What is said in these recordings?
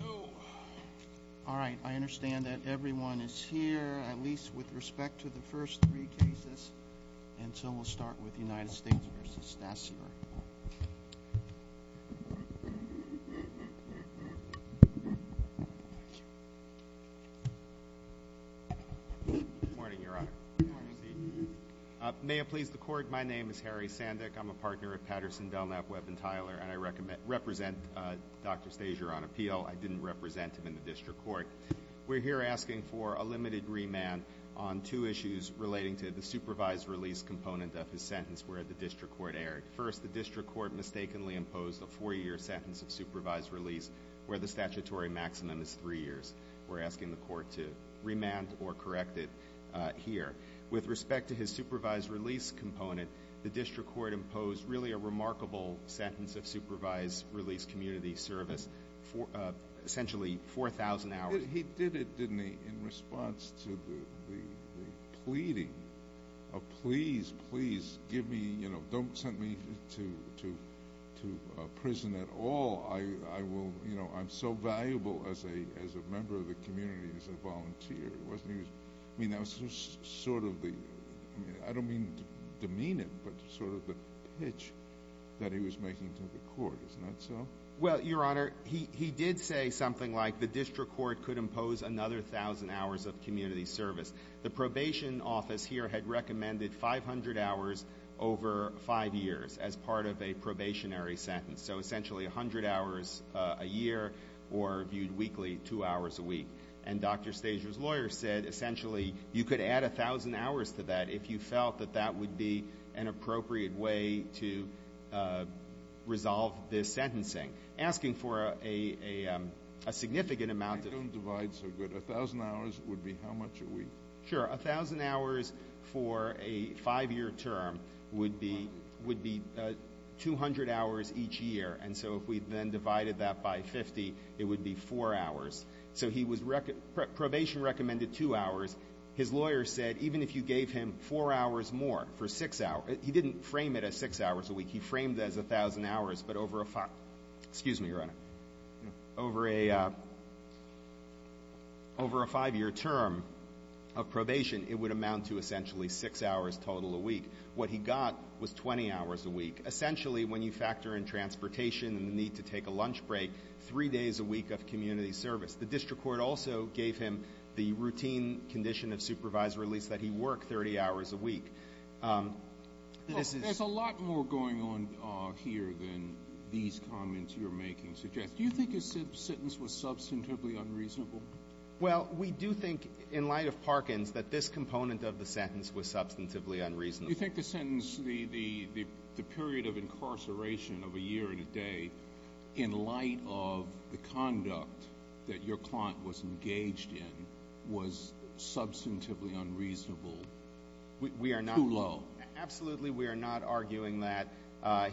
No. All right. I understand that everyone is here, at least with respect to the first three cases. And so we'll start with the United States v. Stasselberg. Good morning, Your Honor. May it please the Court, my name is Harry Sandick. I'm a partner at Patterson, Delknap, Webb & Tyler, and I represent Dr. Stasier on appeal. I didn't represent him in the District Court. We're here asking for a limited remand on two issues relating to the supervised release component of his sentence where the District Court erred. First, the District Court mistakenly imposed a four-year sentence of supervised release where the statutory maximum is three years. We're asking the Court to remand or correct it here. With respect to his supervised release component, the District Court imposed really a remarkable sentence of supervised release community service, essentially 4,000 hours. He did it, didn't he, in response to the pleading of, please, please, don't send me to prison at all. I'm so valuable as a member of the community, as a volunteer. I don't mean demean him, but sort of the pitch that he was making to the Court. Isn't that so? Well, Your Honor, he did say something like the District Court could impose another 1,000 hours of community service. The probation office here had recommended 500 hours over five years as part of a probationary sentence, so essentially 100 hours a year or viewed weekly two hours a week. And Dr. Stasier's lawyer said, essentially, you could add 1,000 hours to that if you felt that that would be an appropriate way to resolve this sentencing. Asking for a significant amount of... I don't divide so good. 1,000 hours would be how much a week? Sure. 1,000 hours for a five-year term would be 200 hours each year. And so if we then divided that by 50, it would be four hours. So he was... probation recommended two hours. His lawyer said even if you gave him four hours more for six hours... he didn't frame it as six hours a week. He framed it as 1,000 hours, but over a five... excuse me, Your Honor. Over a five-year term of probation, it would amount to essentially six hours total a week. What he got was 20 hours a week, essentially when you factor in transportation and the need to take a lunch break, three days a week of community service. The district court also gave him the routine condition of supervisor release that he work 30 hours a week. There's a lot more going on here than these comments you're making suggest. Do you think his sentence was substantively unreasonable? Well, we do think in light of Parkins that this component of the sentence was substantively unreasonable. Do you think the sentence... the period of incarceration of a year and a day in light of the conduct that your client was engaged in was substantively unreasonable, too low? We are not... absolutely, we are not arguing that.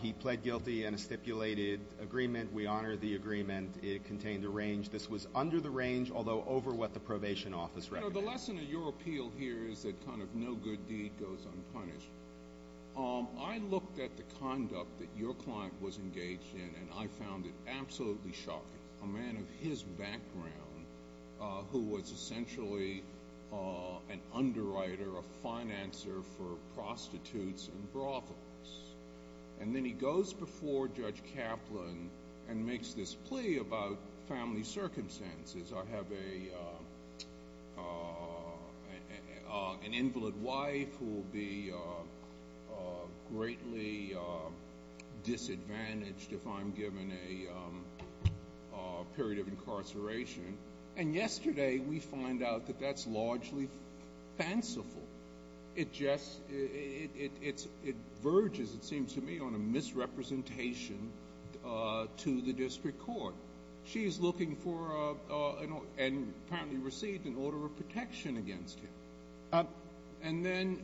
He pled guilty in a stipulated agreement. We honor the agreement. It contained a range. This was under the range, although over what the probation office recommended. The lesson of your appeal here is that kind of no good deed goes unpunished. I looked at the conduct that your client was engaged in and I found it absolutely shocking. A man of his background who was essentially an underwriter, a financer for prostitutes and brothels, and then he goes before Judge Kaplan and makes this plea about family circumstances. I have an invalid wife who will be greatly disadvantaged if I'm given a period of incarceration. And yesterday we find out that that's largely fanciful. It just... it verges, it seems to me, on a misrepresentation to the district court. She is looking for and apparently received an order of protection against him. And then,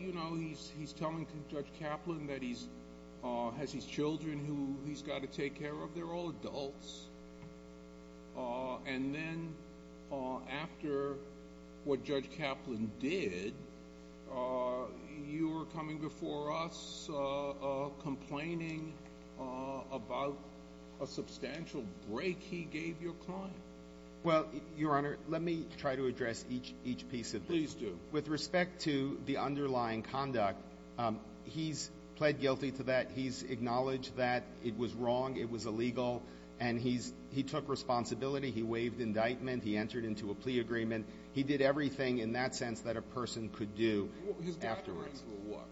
you know, he's telling Judge Kaplan that he has his children who he's got to take care of. They're all adults. And then after what he's doing, he's complaining about a substantial break he gave your client. Well, Your Honor, let me try to address each piece of this. Please do. With respect to the underlying conduct, he's pled guilty to that. He's acknowledged that it was wrong, it was illegal, and he took responsibility. He waived indictment. He entered into a plea agreement. He did everything in that sense that a person could do afterwards. His background for what?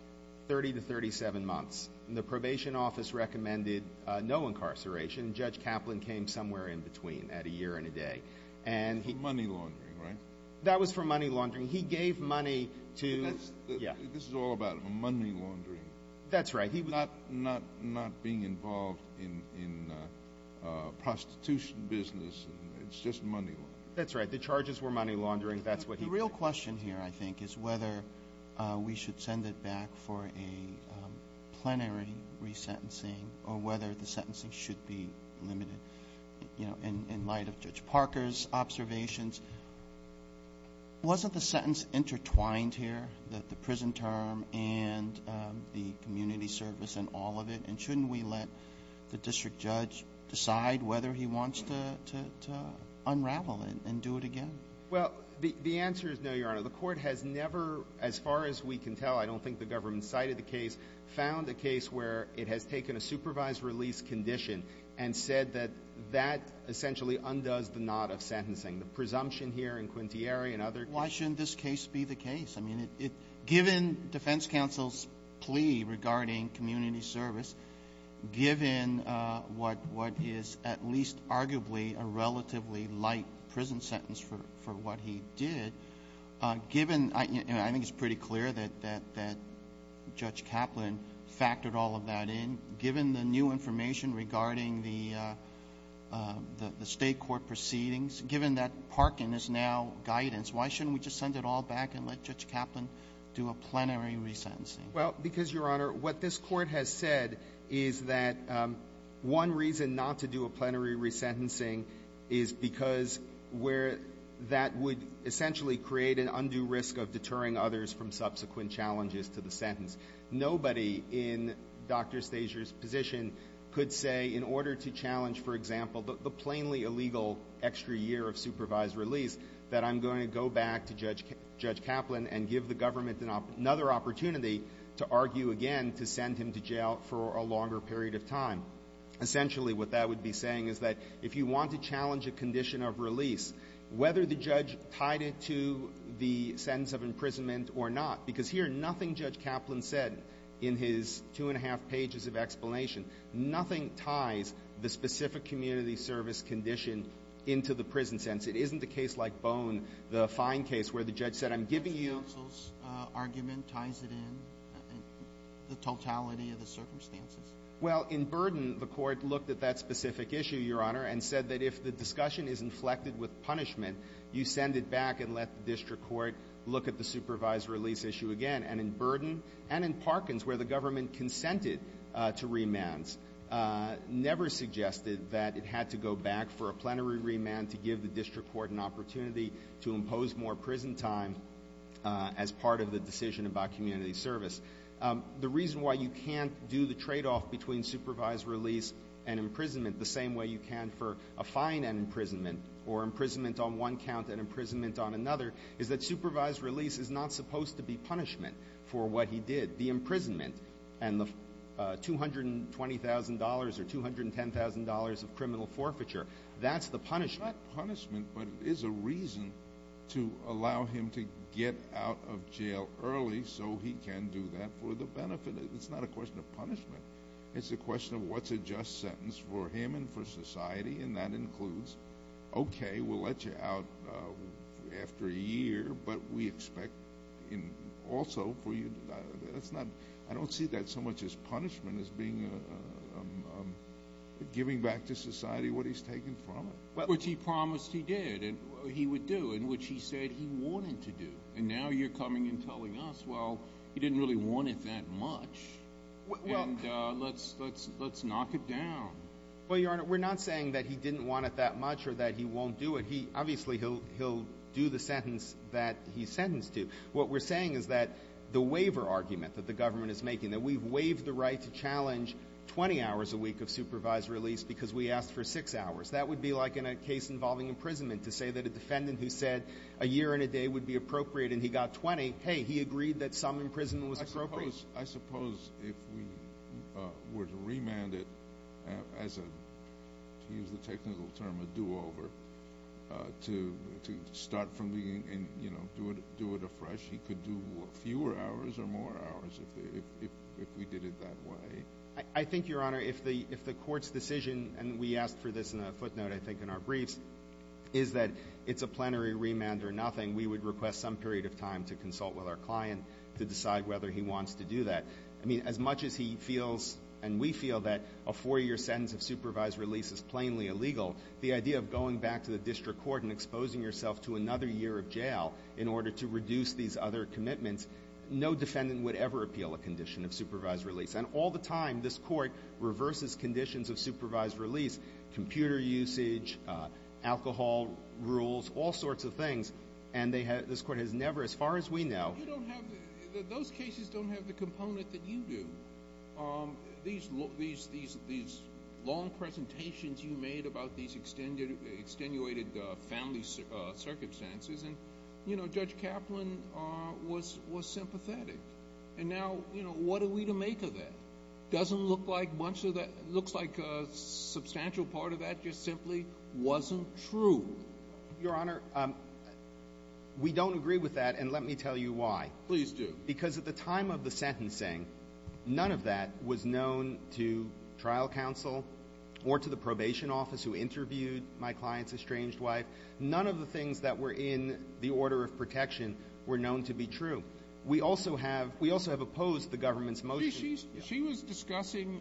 30 to 37 months. The probation office recommended no incarceration. Judge Kaplan came somewhere in between at a year and a day. For money laundering, right? That was for money laundering. He gave money to... This is all about money laundering. That's right. Not being involved in prostitution business. It's just money laundering. The real question here, I think, is whether we should send it back for a plenary resentencing or whether the sentencing should be limited. In light of Judge Parker's observations, wasn't the sentence intertwined here, that the prison term and the community service and all of it? And shouldn't we let the district judge decide whether he wants to unravel it and do it again? Well, the answer is no, Your Honor. The court has never, as far as we can tell, I don't think the government cited the case, found a case where it has taken a supervised release condition and said that that essentially undoes the knot of sentencing. The presumption here in Quintieri and other... Why shouldn't this case be the case? I mean, given defense counsel's plea regarding community service, given what is at least arguably a relatively light prison sentence for what he did, given... I think it's pretty clear that Judge Kaplan factored all of that in. Given the new information regarding the state court proceedings, given that Parkin is now guidance, why shouldn't we just send it all back and let Judge Kaplan do a plenary resentencing? Well, because, Your Honor, what this court has said is that one reason not to do a plenary resentencing is because that would essentially create an undue risk of deterring others from subsequent challenges to the sentence. Nobody in Dr. Stasier's position could say in order to challenge, for example, the plainly illegal extra year of supervised release, that I'm going to go back to Judge Kaplan and give the government another opportunity to argue again to send him to jail for a longer period of time. Essentially, what that would be saying is that if you want to challenge a condition of release, whether the judge tied it to the sentence of imprisonment or not, because here nothing Judge Kaplan said in his two and a half pages of explanation, nothing ties the specific community service condition into the prison sentence. It isn't a case like Bone, the fine case, where the judge said, I'm giving you...... defense counsel's argument ties it in, the totality of the circumstances? Well, in Burden, the court looked at that specific issue, Your Honor, and said that if the discussion is inflected with punishment, you send it back and let the district court look at the supervised release issue again. And in Burden and in Parkins, where the government consented to remands, never suggested that it had to go back for a plenary remand to give the district court an opportunity to impose more prison time as part of the decision about community service. The reason why you can't do the tradeoff between supervised release and imprisonment the same way you can for a fine and imprisonment, or imprisonment on one count and imprisonment on another, is that supervised release is not supposed to be punishment for what he did. The imprisonment and the $220,000 or $210,000 of criminal forfeiture, that's the punishment. It's not punishment, but it is a reason to allow him to get out of jail early so he can do that for the benefit. It's not a question of punishment. It's a question of what's a just sentence for him and for society, and that includes, okay, we'll let you out after a year, but we expect also for you... I don't see that so much as punishment as giving back to society what he's taken from it. Which he promised he did, and he would do, and which he said he wanted to do. And now you're coming and telling us, well, he didn't really want it that much, and let's knock it down. Well, Your Honor, we're not saying that he didn't want it that much or that he won't do it. Obviously, he'll do the sentence that he's sentenced to. What we're saying is that the waiver argument that the government is making, that we've waived the right to challenge 20 hours a week of supervised release because we asked for six hours, that would be like in a case involving imprisonment, to say that a defendant who said a year and a day would be appropriate and he got 20, hey, he agreed that some imprisonment was appropriate. I suppose if we were to remand it as a, to use the technical term, a do-over, to start from the beginning and do it afresh, he could do fewer hours or more hours if we did it that way. I think, Your Honor, if the court's decision, and we asked for this in a footnote, I think, in our briefs, is that it's a plenary remand or nothing, we would request some period of time to consult with our client to decide whether he wants to do that. I mean, as much as he feels and we feel that a four-year sentence of supervised release is plainly illegal, the idea of going back to the district court and exposing yourself to another year of jail in order to reduce these other commitments, no defendant would ever appeal a condition of supervised release. And all the time, this court reverses conditions of supervised release, computer usage, alcohol rules, all sorts of things, and this court has never, as far as we know. You don't have, those cases don't have the component that you do. These long presentations you made about these extenuated family circumstances, and, you know, Judge Kaplan was sympathetic. And now, you know, what are we to make of that? Doesn't look like much of that, looks like a substantial part of that just simply wasn't true. Your Honor, we don't agree with that, and let me tell you why. Please do. Because at the time of the sentencing, none of that was known to trial counsel or to the probation office who interviewed my client's estranged wife. None of the things that were in the order of protection were known to be true. We also have opposed the government's motion. She was discussing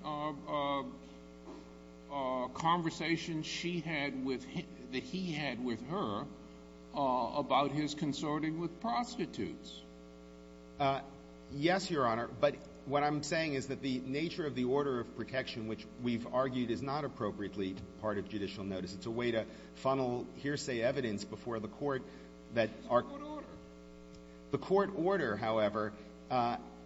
conversations she had with, that he had with her, about his consorting with prostitutes. Yes, Your Honor, but what I'm saying is that the nature of the order of protection, which we've argued is not appropriately part of judicial notice, because it's a way to funnel hearsay evidence before the court that are... It's a court order. The court order, however,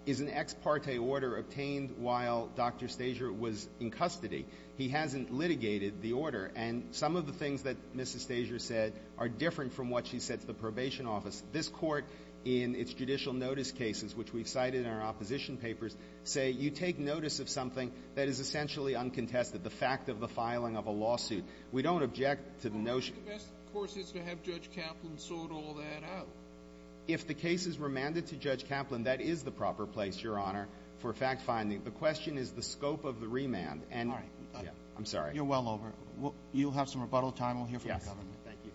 is an ex parte order obtained while Dr. Stasier was in custody. He hasn't litigated the order, and some of the things that Mrs. Stasier said are different from what she said to the probation office. This court, in its judicial notice cases, which we've cited in our opposition papers, say you take notice of something that is essentially uncontested, the fact of the filing of a lawsuit. We don't object to the notion... The best course is to have Judge Kaplan sort all that out. If the case is remanded to Judge Kaplan, that is the proper place, Your Honor, for fact finding. The question is the scope of the remand. All right. I'm sorry. You're well over. You'll have some rebuttal time. We'll hear from the government. Thank you.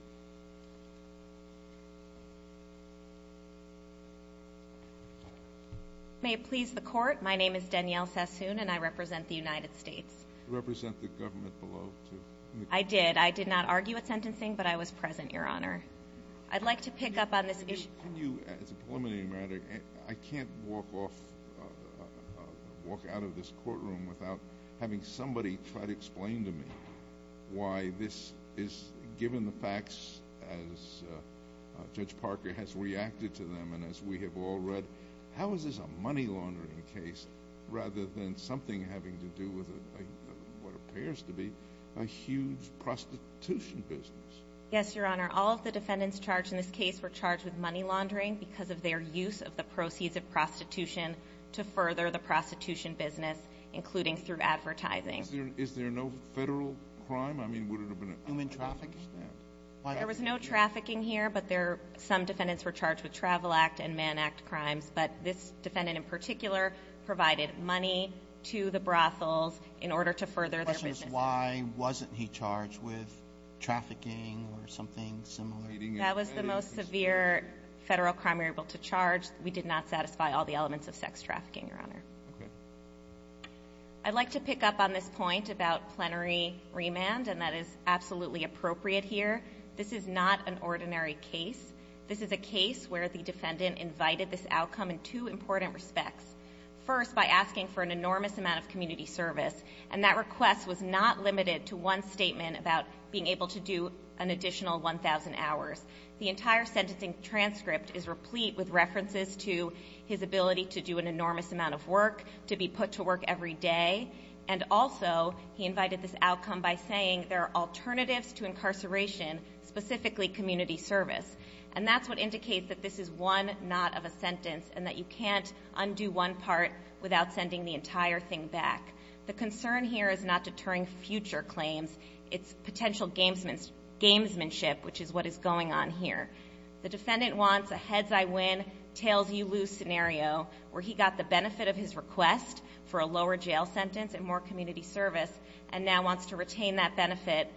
May it please the Court, my name is Danielle Sassoon, and I represent the United States. You represent the government below, too. I did. I did not argue at sentencing, but I was present, Your Honor. I'd like to pick up on this issue. Can you, as a preliminary matter, I can't walk off, walk out of this courtroom without having somebody try to explain to me why this is, given the facts, as Judge Parker has reacted to them and as we have all read, how is this a money laundering case rather than something having to do with what appears to be a huge prostitution business? Yes, Your Honor. All of the defendants charged in this case were charged with money laundering because of their use of the proceeds of prostitution to further the prostitution business, including through advertising. Is there no federal crime? I mean, would it have been human trafficking? There was no trafficking here, but some defendants were charged with Travel Act and Man Act crimes, but this defendant in particular provided money to the brothels in order to further their business. The question is why wasn't he charged with trafficking or something similar? That was the most severe federal crime we were able to charge. We did not satisfy all the elements of sex trafficking, Your Honor. Okay. I'd like to pick up on this point about plenary remand, and that is absolutely appropriate here. This is not an ordinary case. This is a case where the defendant invited this outcome in two important respects. First, by asking for an enormous amount of community service, and that request was not limited to one statement about being able to do an additional 1,000 hours. The entire sentencing transcript is replete with references to his ability to do an enormous amount of work, to be put to work every day, and also he invited this outcome by saying there are alternatives to incarceration, specifically community service. And that's what indicates that this is one not of a sentence and that you can't undo one part without sending the entire thing back. The concern here is not deterring future claims. It's potential gamesmanship, which is what is going on here. The defendant wants a heads-I-win, tails-you-lose scenario where he got the benefit of his request for a lower jail sentence and more community service and now wants to retain that benefit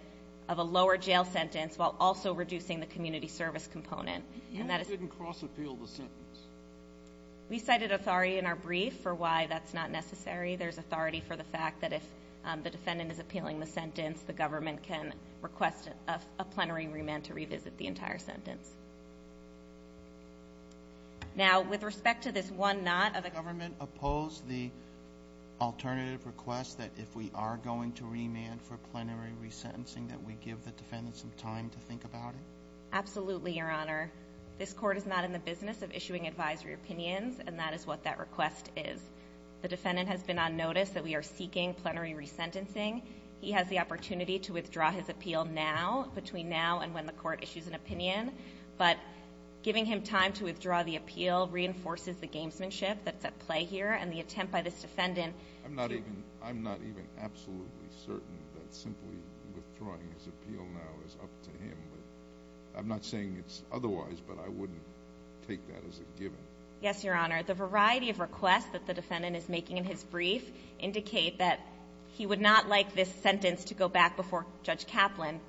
of a lower jail sentence while also reducing the community service component. You didn't cross-appeal the sentence. We cited authority in our brief for why that's not necessary. There's authority for the fact that if the defendant is appealing the sentence, the government can request a plenary remand to revisit the entire sentence. Now, with respect to this one not of a sentence, do you notice that if we are going to remand for plenary resentencing that we give the defendant some time to think about it? Absolutely, Your Honor. This court is not in the business of issuing advisory opinions, and that is what that request is. The defendant has been on notice that we are seeking plenary resentencing. He has the opportunity to withdraw his appeal now, between now and when the court issues an opinion, but giving him time to withdraw the appeal reinforces the gamesmanship that's at play here, and the attempt by this defendant to... I'm not even absolutely certain that simply withdrawing his appeal now is up to him. I'm not saying it's otherwise, but I wouldn't take that as a given. Yes, Your Honor. The variety of requests that the defendant is making in his brief indicate that he would not like this sentence to go back before Judge Kaplan,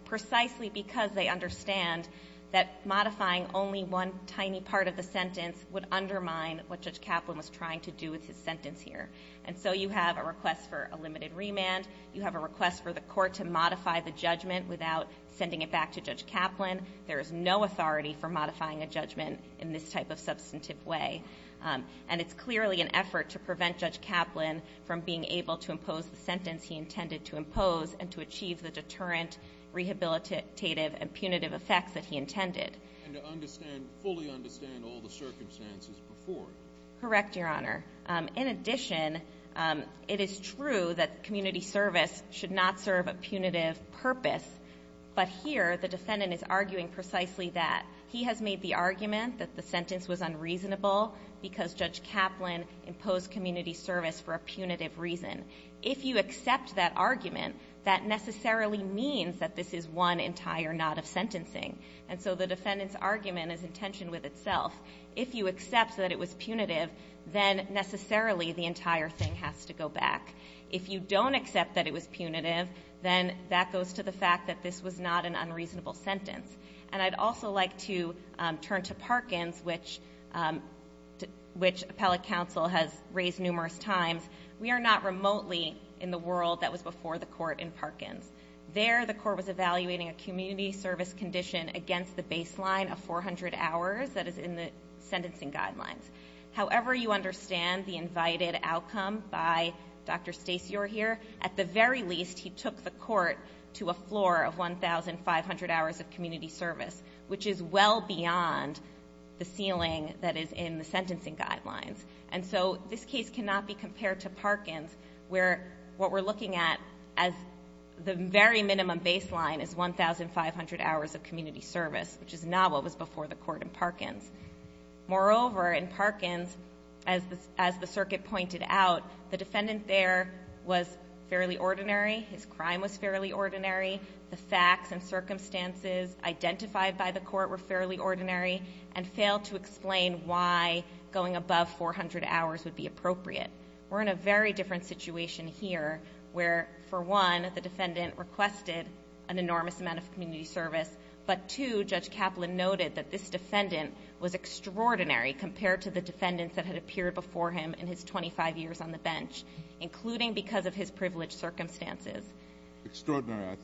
what Judge Kaplan was trying to do with his sentence here. And so you have a request for a limited remand. You have a request for the court to modify the judgment without sending it back to Judge Kaplan. There is no authority for modifying a judgment in this type of substantive way. And it's clearly an effort to prevent Judge Kaplan from being able to impose the sentence he intended to impose and to achieve the deterrent, rehabilitative, and punitive effects that he intended. And to fully understand all the circumstances before. Correct, Your Honor. In addition, it is true that community service should not serve a punitive purpose, but here the defendant is arguing precisely that. He has made the argument that the sentence was unreasonable because Judge Kaplan imposed community service for a punitive reason. If you accept that argument, that necessarily means that this is one entire knot of sentencing. And so the defendant's argument is in tension with itself. If you accept that it was punitive, then necessarily the entire thing has to go back. If you don't accept that it was punitive, then that goes to the fact that this was not an unreasonable sentence. And I'd also like to turn to Parkins, which appellate counsel has raised numerous times. We are not remotely in the world that was before the court in Parkins. There the court was evaluating a community service condition against the baseline of 400 hours that is in the sentencing guidelines. However you understand the invited outcome by Dr. Stacey O'Heir, at the very least he took the court to a floor of 1,500 hours of community service, which is well beyond the ceiling that is in the sentencing guidelines. And so this case cannot be compared to Parkins, where what we're looking at as the very minimum baseline is 1,500 hours of community service, which is not what was before the court in Parkins. Moreover, in Parkins, as the circuit pointed out, the defendant there was fairly ordinary. His crime was fairly ordinary. The facts and circumstances identified by the court were fairly ordinary and failed to explain why going above 400 hours would be appropriate. We're in a very different situation here where, for one, the defendant requested an enormous amount of community service, but two, Judge Kaplan noted that this defendant was extraordinary compared to the defendants that had appeared before him in his 25 years on the bench, including because of his privileged circumstances. Extraordinary, I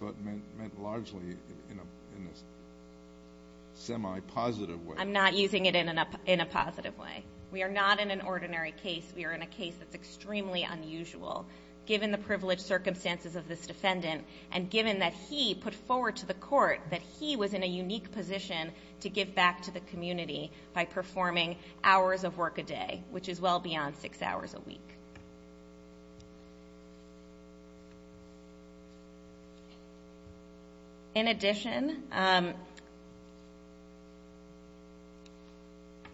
thought, meant largely in a semi-positive way. I'm not using it in a positive way. We are not in an ordinary case. We are in a case that's extremely unusual, given the privileged circumstances of this defendant and given that he put forward to the court that he was in a unique position to give back to the community by performing hours of work a day, which is well beyond six hours a week. In addition,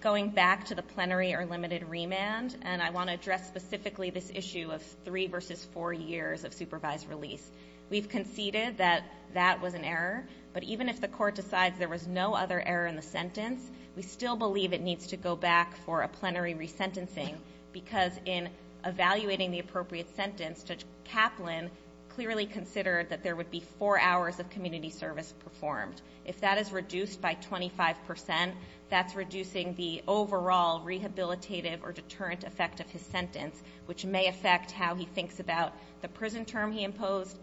going back to the plenary or limited remand, and I want to address specifically this issue of three versus four years of supervised release. We've conceded that that was an error, but even if the court decides there was no other error in the sentence, we still believe it needs to go back for a plenary resentencing because in evaluating the appropriate sentence, Judge Kaplan clearly considered that there would be four hours of community service performed. If that is reduced by 25%, that's reducing the overall rehabilitative or deterrent effect of his sentence, which may affect how he thinks about the prison term he imposed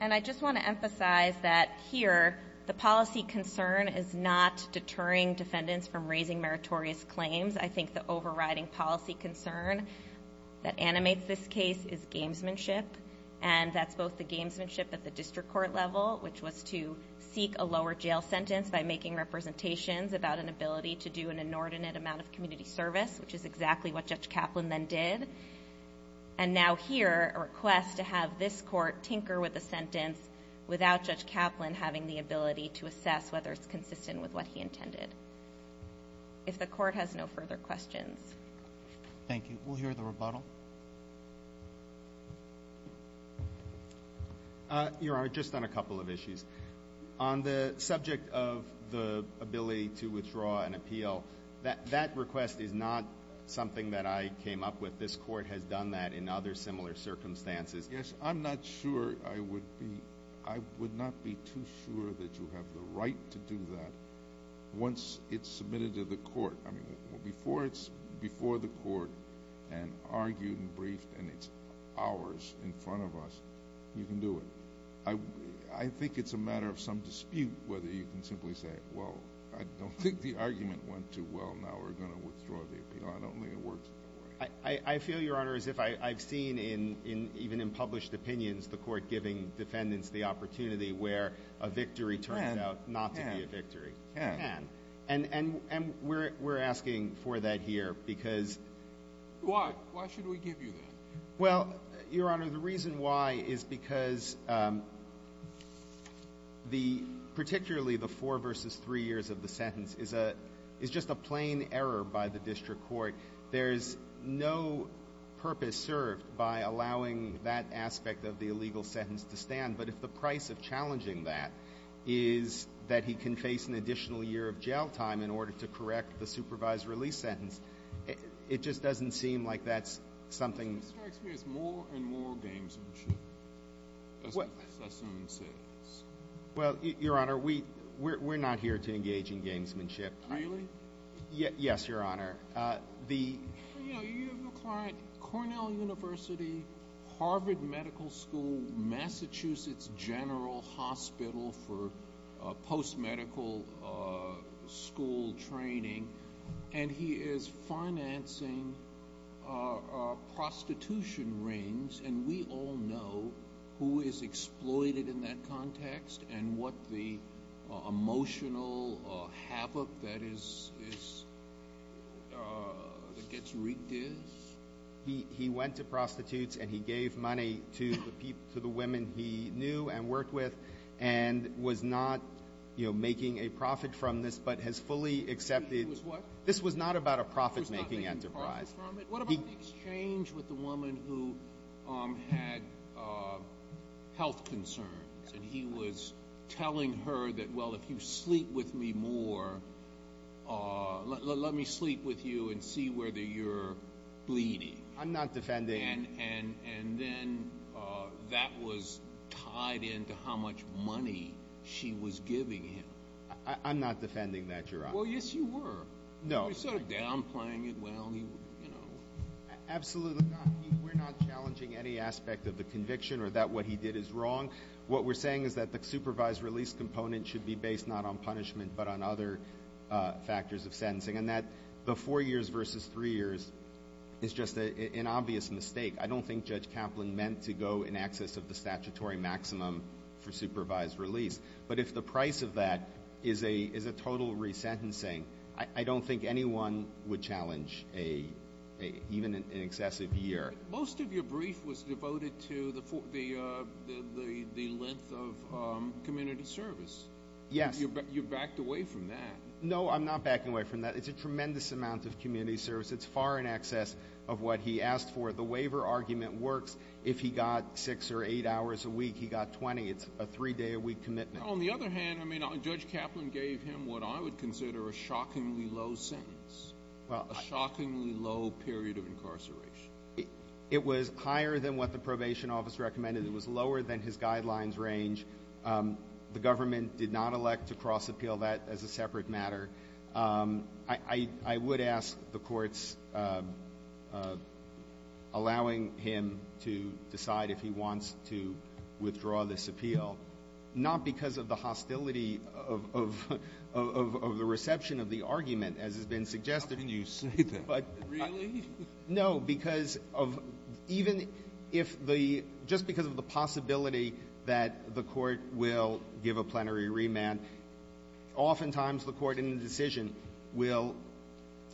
And I just want to emphasize that here, the policy concern is not deterring defendants from raising meritorious claims. I think the overriding policy concern that animates this case is gamesmanship, and that's both the gamesmanship at the district court level, which was to seek a lower jail sentence by making representations about an ability to do an inordinate amount of community service, which is exactly what Judge Kaplan then did. And now here, a request to have this court tinker with the sentence without Judge Kaplan having the ability to assess whether it's consistent with what he intended. If the court has no further questions. Thank you. We'll hear the rebuttal. Your Honor, just on a couple of issues. On the subject of the ability to withdraw an appeal, that request is not something that I came up with. This court has done that in other similar circumstances. Yes, I'm not sure I would be. I would not be too sure that you have the right to do that once it's submitted to the court. I mean, before it's before the court and argued and briefed, and it's ours in front of us, you can do it. I think it's a matter of some dispute whether you can simply say, well, I don't think the argument went too well, now we're going to withdraw the appeal. I don't think it works that way. I feel, Your Honor, as if I've seen even in published opinions, the court giving defendants the opportunity where a victory turns out not to be a victory. It can. And we're asking for that here because... Why? Why should we give you that? Well, Your Honor, the reason why is because particularly the four versus three years of the sentence is just a plain error by the district court. There is no purpose served by allowing that aspect of the illegal sentence to stand. But if the price of challenging that is that he can face an additional year of jail time in order to correct the supervised release sentence, it just doesn't seem like that's something... It strikes me as more and more gamesmanship, as Sessom says. Well, Your Honor, we're not here to engage in gamesmanship. Really? Yes, Your Honor. You have a client, Cornell University, Harvard Medical School, Massachusetts General Hospital for post-medical school training, and he is financing prostitution rings, and we all know who is exploited in that context and what the emotional havoc that gets wreaked is. He went to prostitutes and he gave money to the women he knew and worked with and was not making a profit from this but has fully accepted it. He was what? This was not about a profit-making enterprise. He was not making profit from it? What about the exchange with the woman who had health concerns and he was telling her that, well, if you sleep with me more, let me sleep with you and see whether you're bleeding. I'm not defending. And then that was tied into how much money she was giving him. I'm not defending that, Your Honor. Well, yes, you were. No. You were sort of downplaying it. Well, you know. Absolutely not. We're not challenging any aspect of the conviction or that what he did is wrong. What we're saying is that the supervised release component should be based not on punishment but on other factors of sentencing, and that the four years versus three years is just an obvious mistake. I don't think Judge Kaplan meant to go in excess of the statutory maximum for supervised release. But if the price of that is a total resentencing, I don't think anyone would challenge even an excessive year. Most of your brief was devoted to the length of community service. Yes. You backed away from that. No, I'm not backing away from that. It's a tremendous amount of community service. It's far in excess of what he asked for. The waiver argument works. If he got six or eight hours a week, he got 20. It's a three-day-a-week commitment. On the other hand, Judge Kaplan gave him what I would consider a shockingly low sentence, a shockingly low period of incarceration. It was higher than what the probation office recommended. It was lower than his guidelines range. The government did not elect to cross-appeal that as a separate matter. I would ask the courts allowing him to decide if he wants to withdraw this appeal, not because of the hostility of the reception of the argument, as has been suggested. How can you say that? Really? No. Because of even if the — just because of the possibility that the court will give a plenary remand, oftentimes the court in the decision will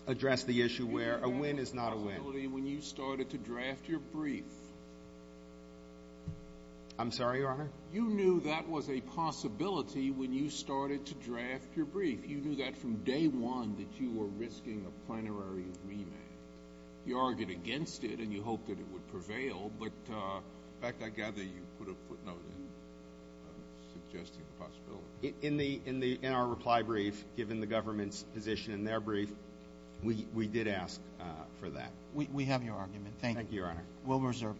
address the issue where a win is not a win. You knew that possibility when you started to draft your brief. I'm sorry, Your Honor? You knew that was a possibility when you started to draft your brief. You knew that from day one that you were risking a plenary remand. You argued against it, and you hoped that it would prevail. But, in fact, I gather you put a footnote in suggesting the possibility. In our reply brief, given the government's position in their brief, we did ask for that. We have your argument. Thank you. Thank you, Your Honor.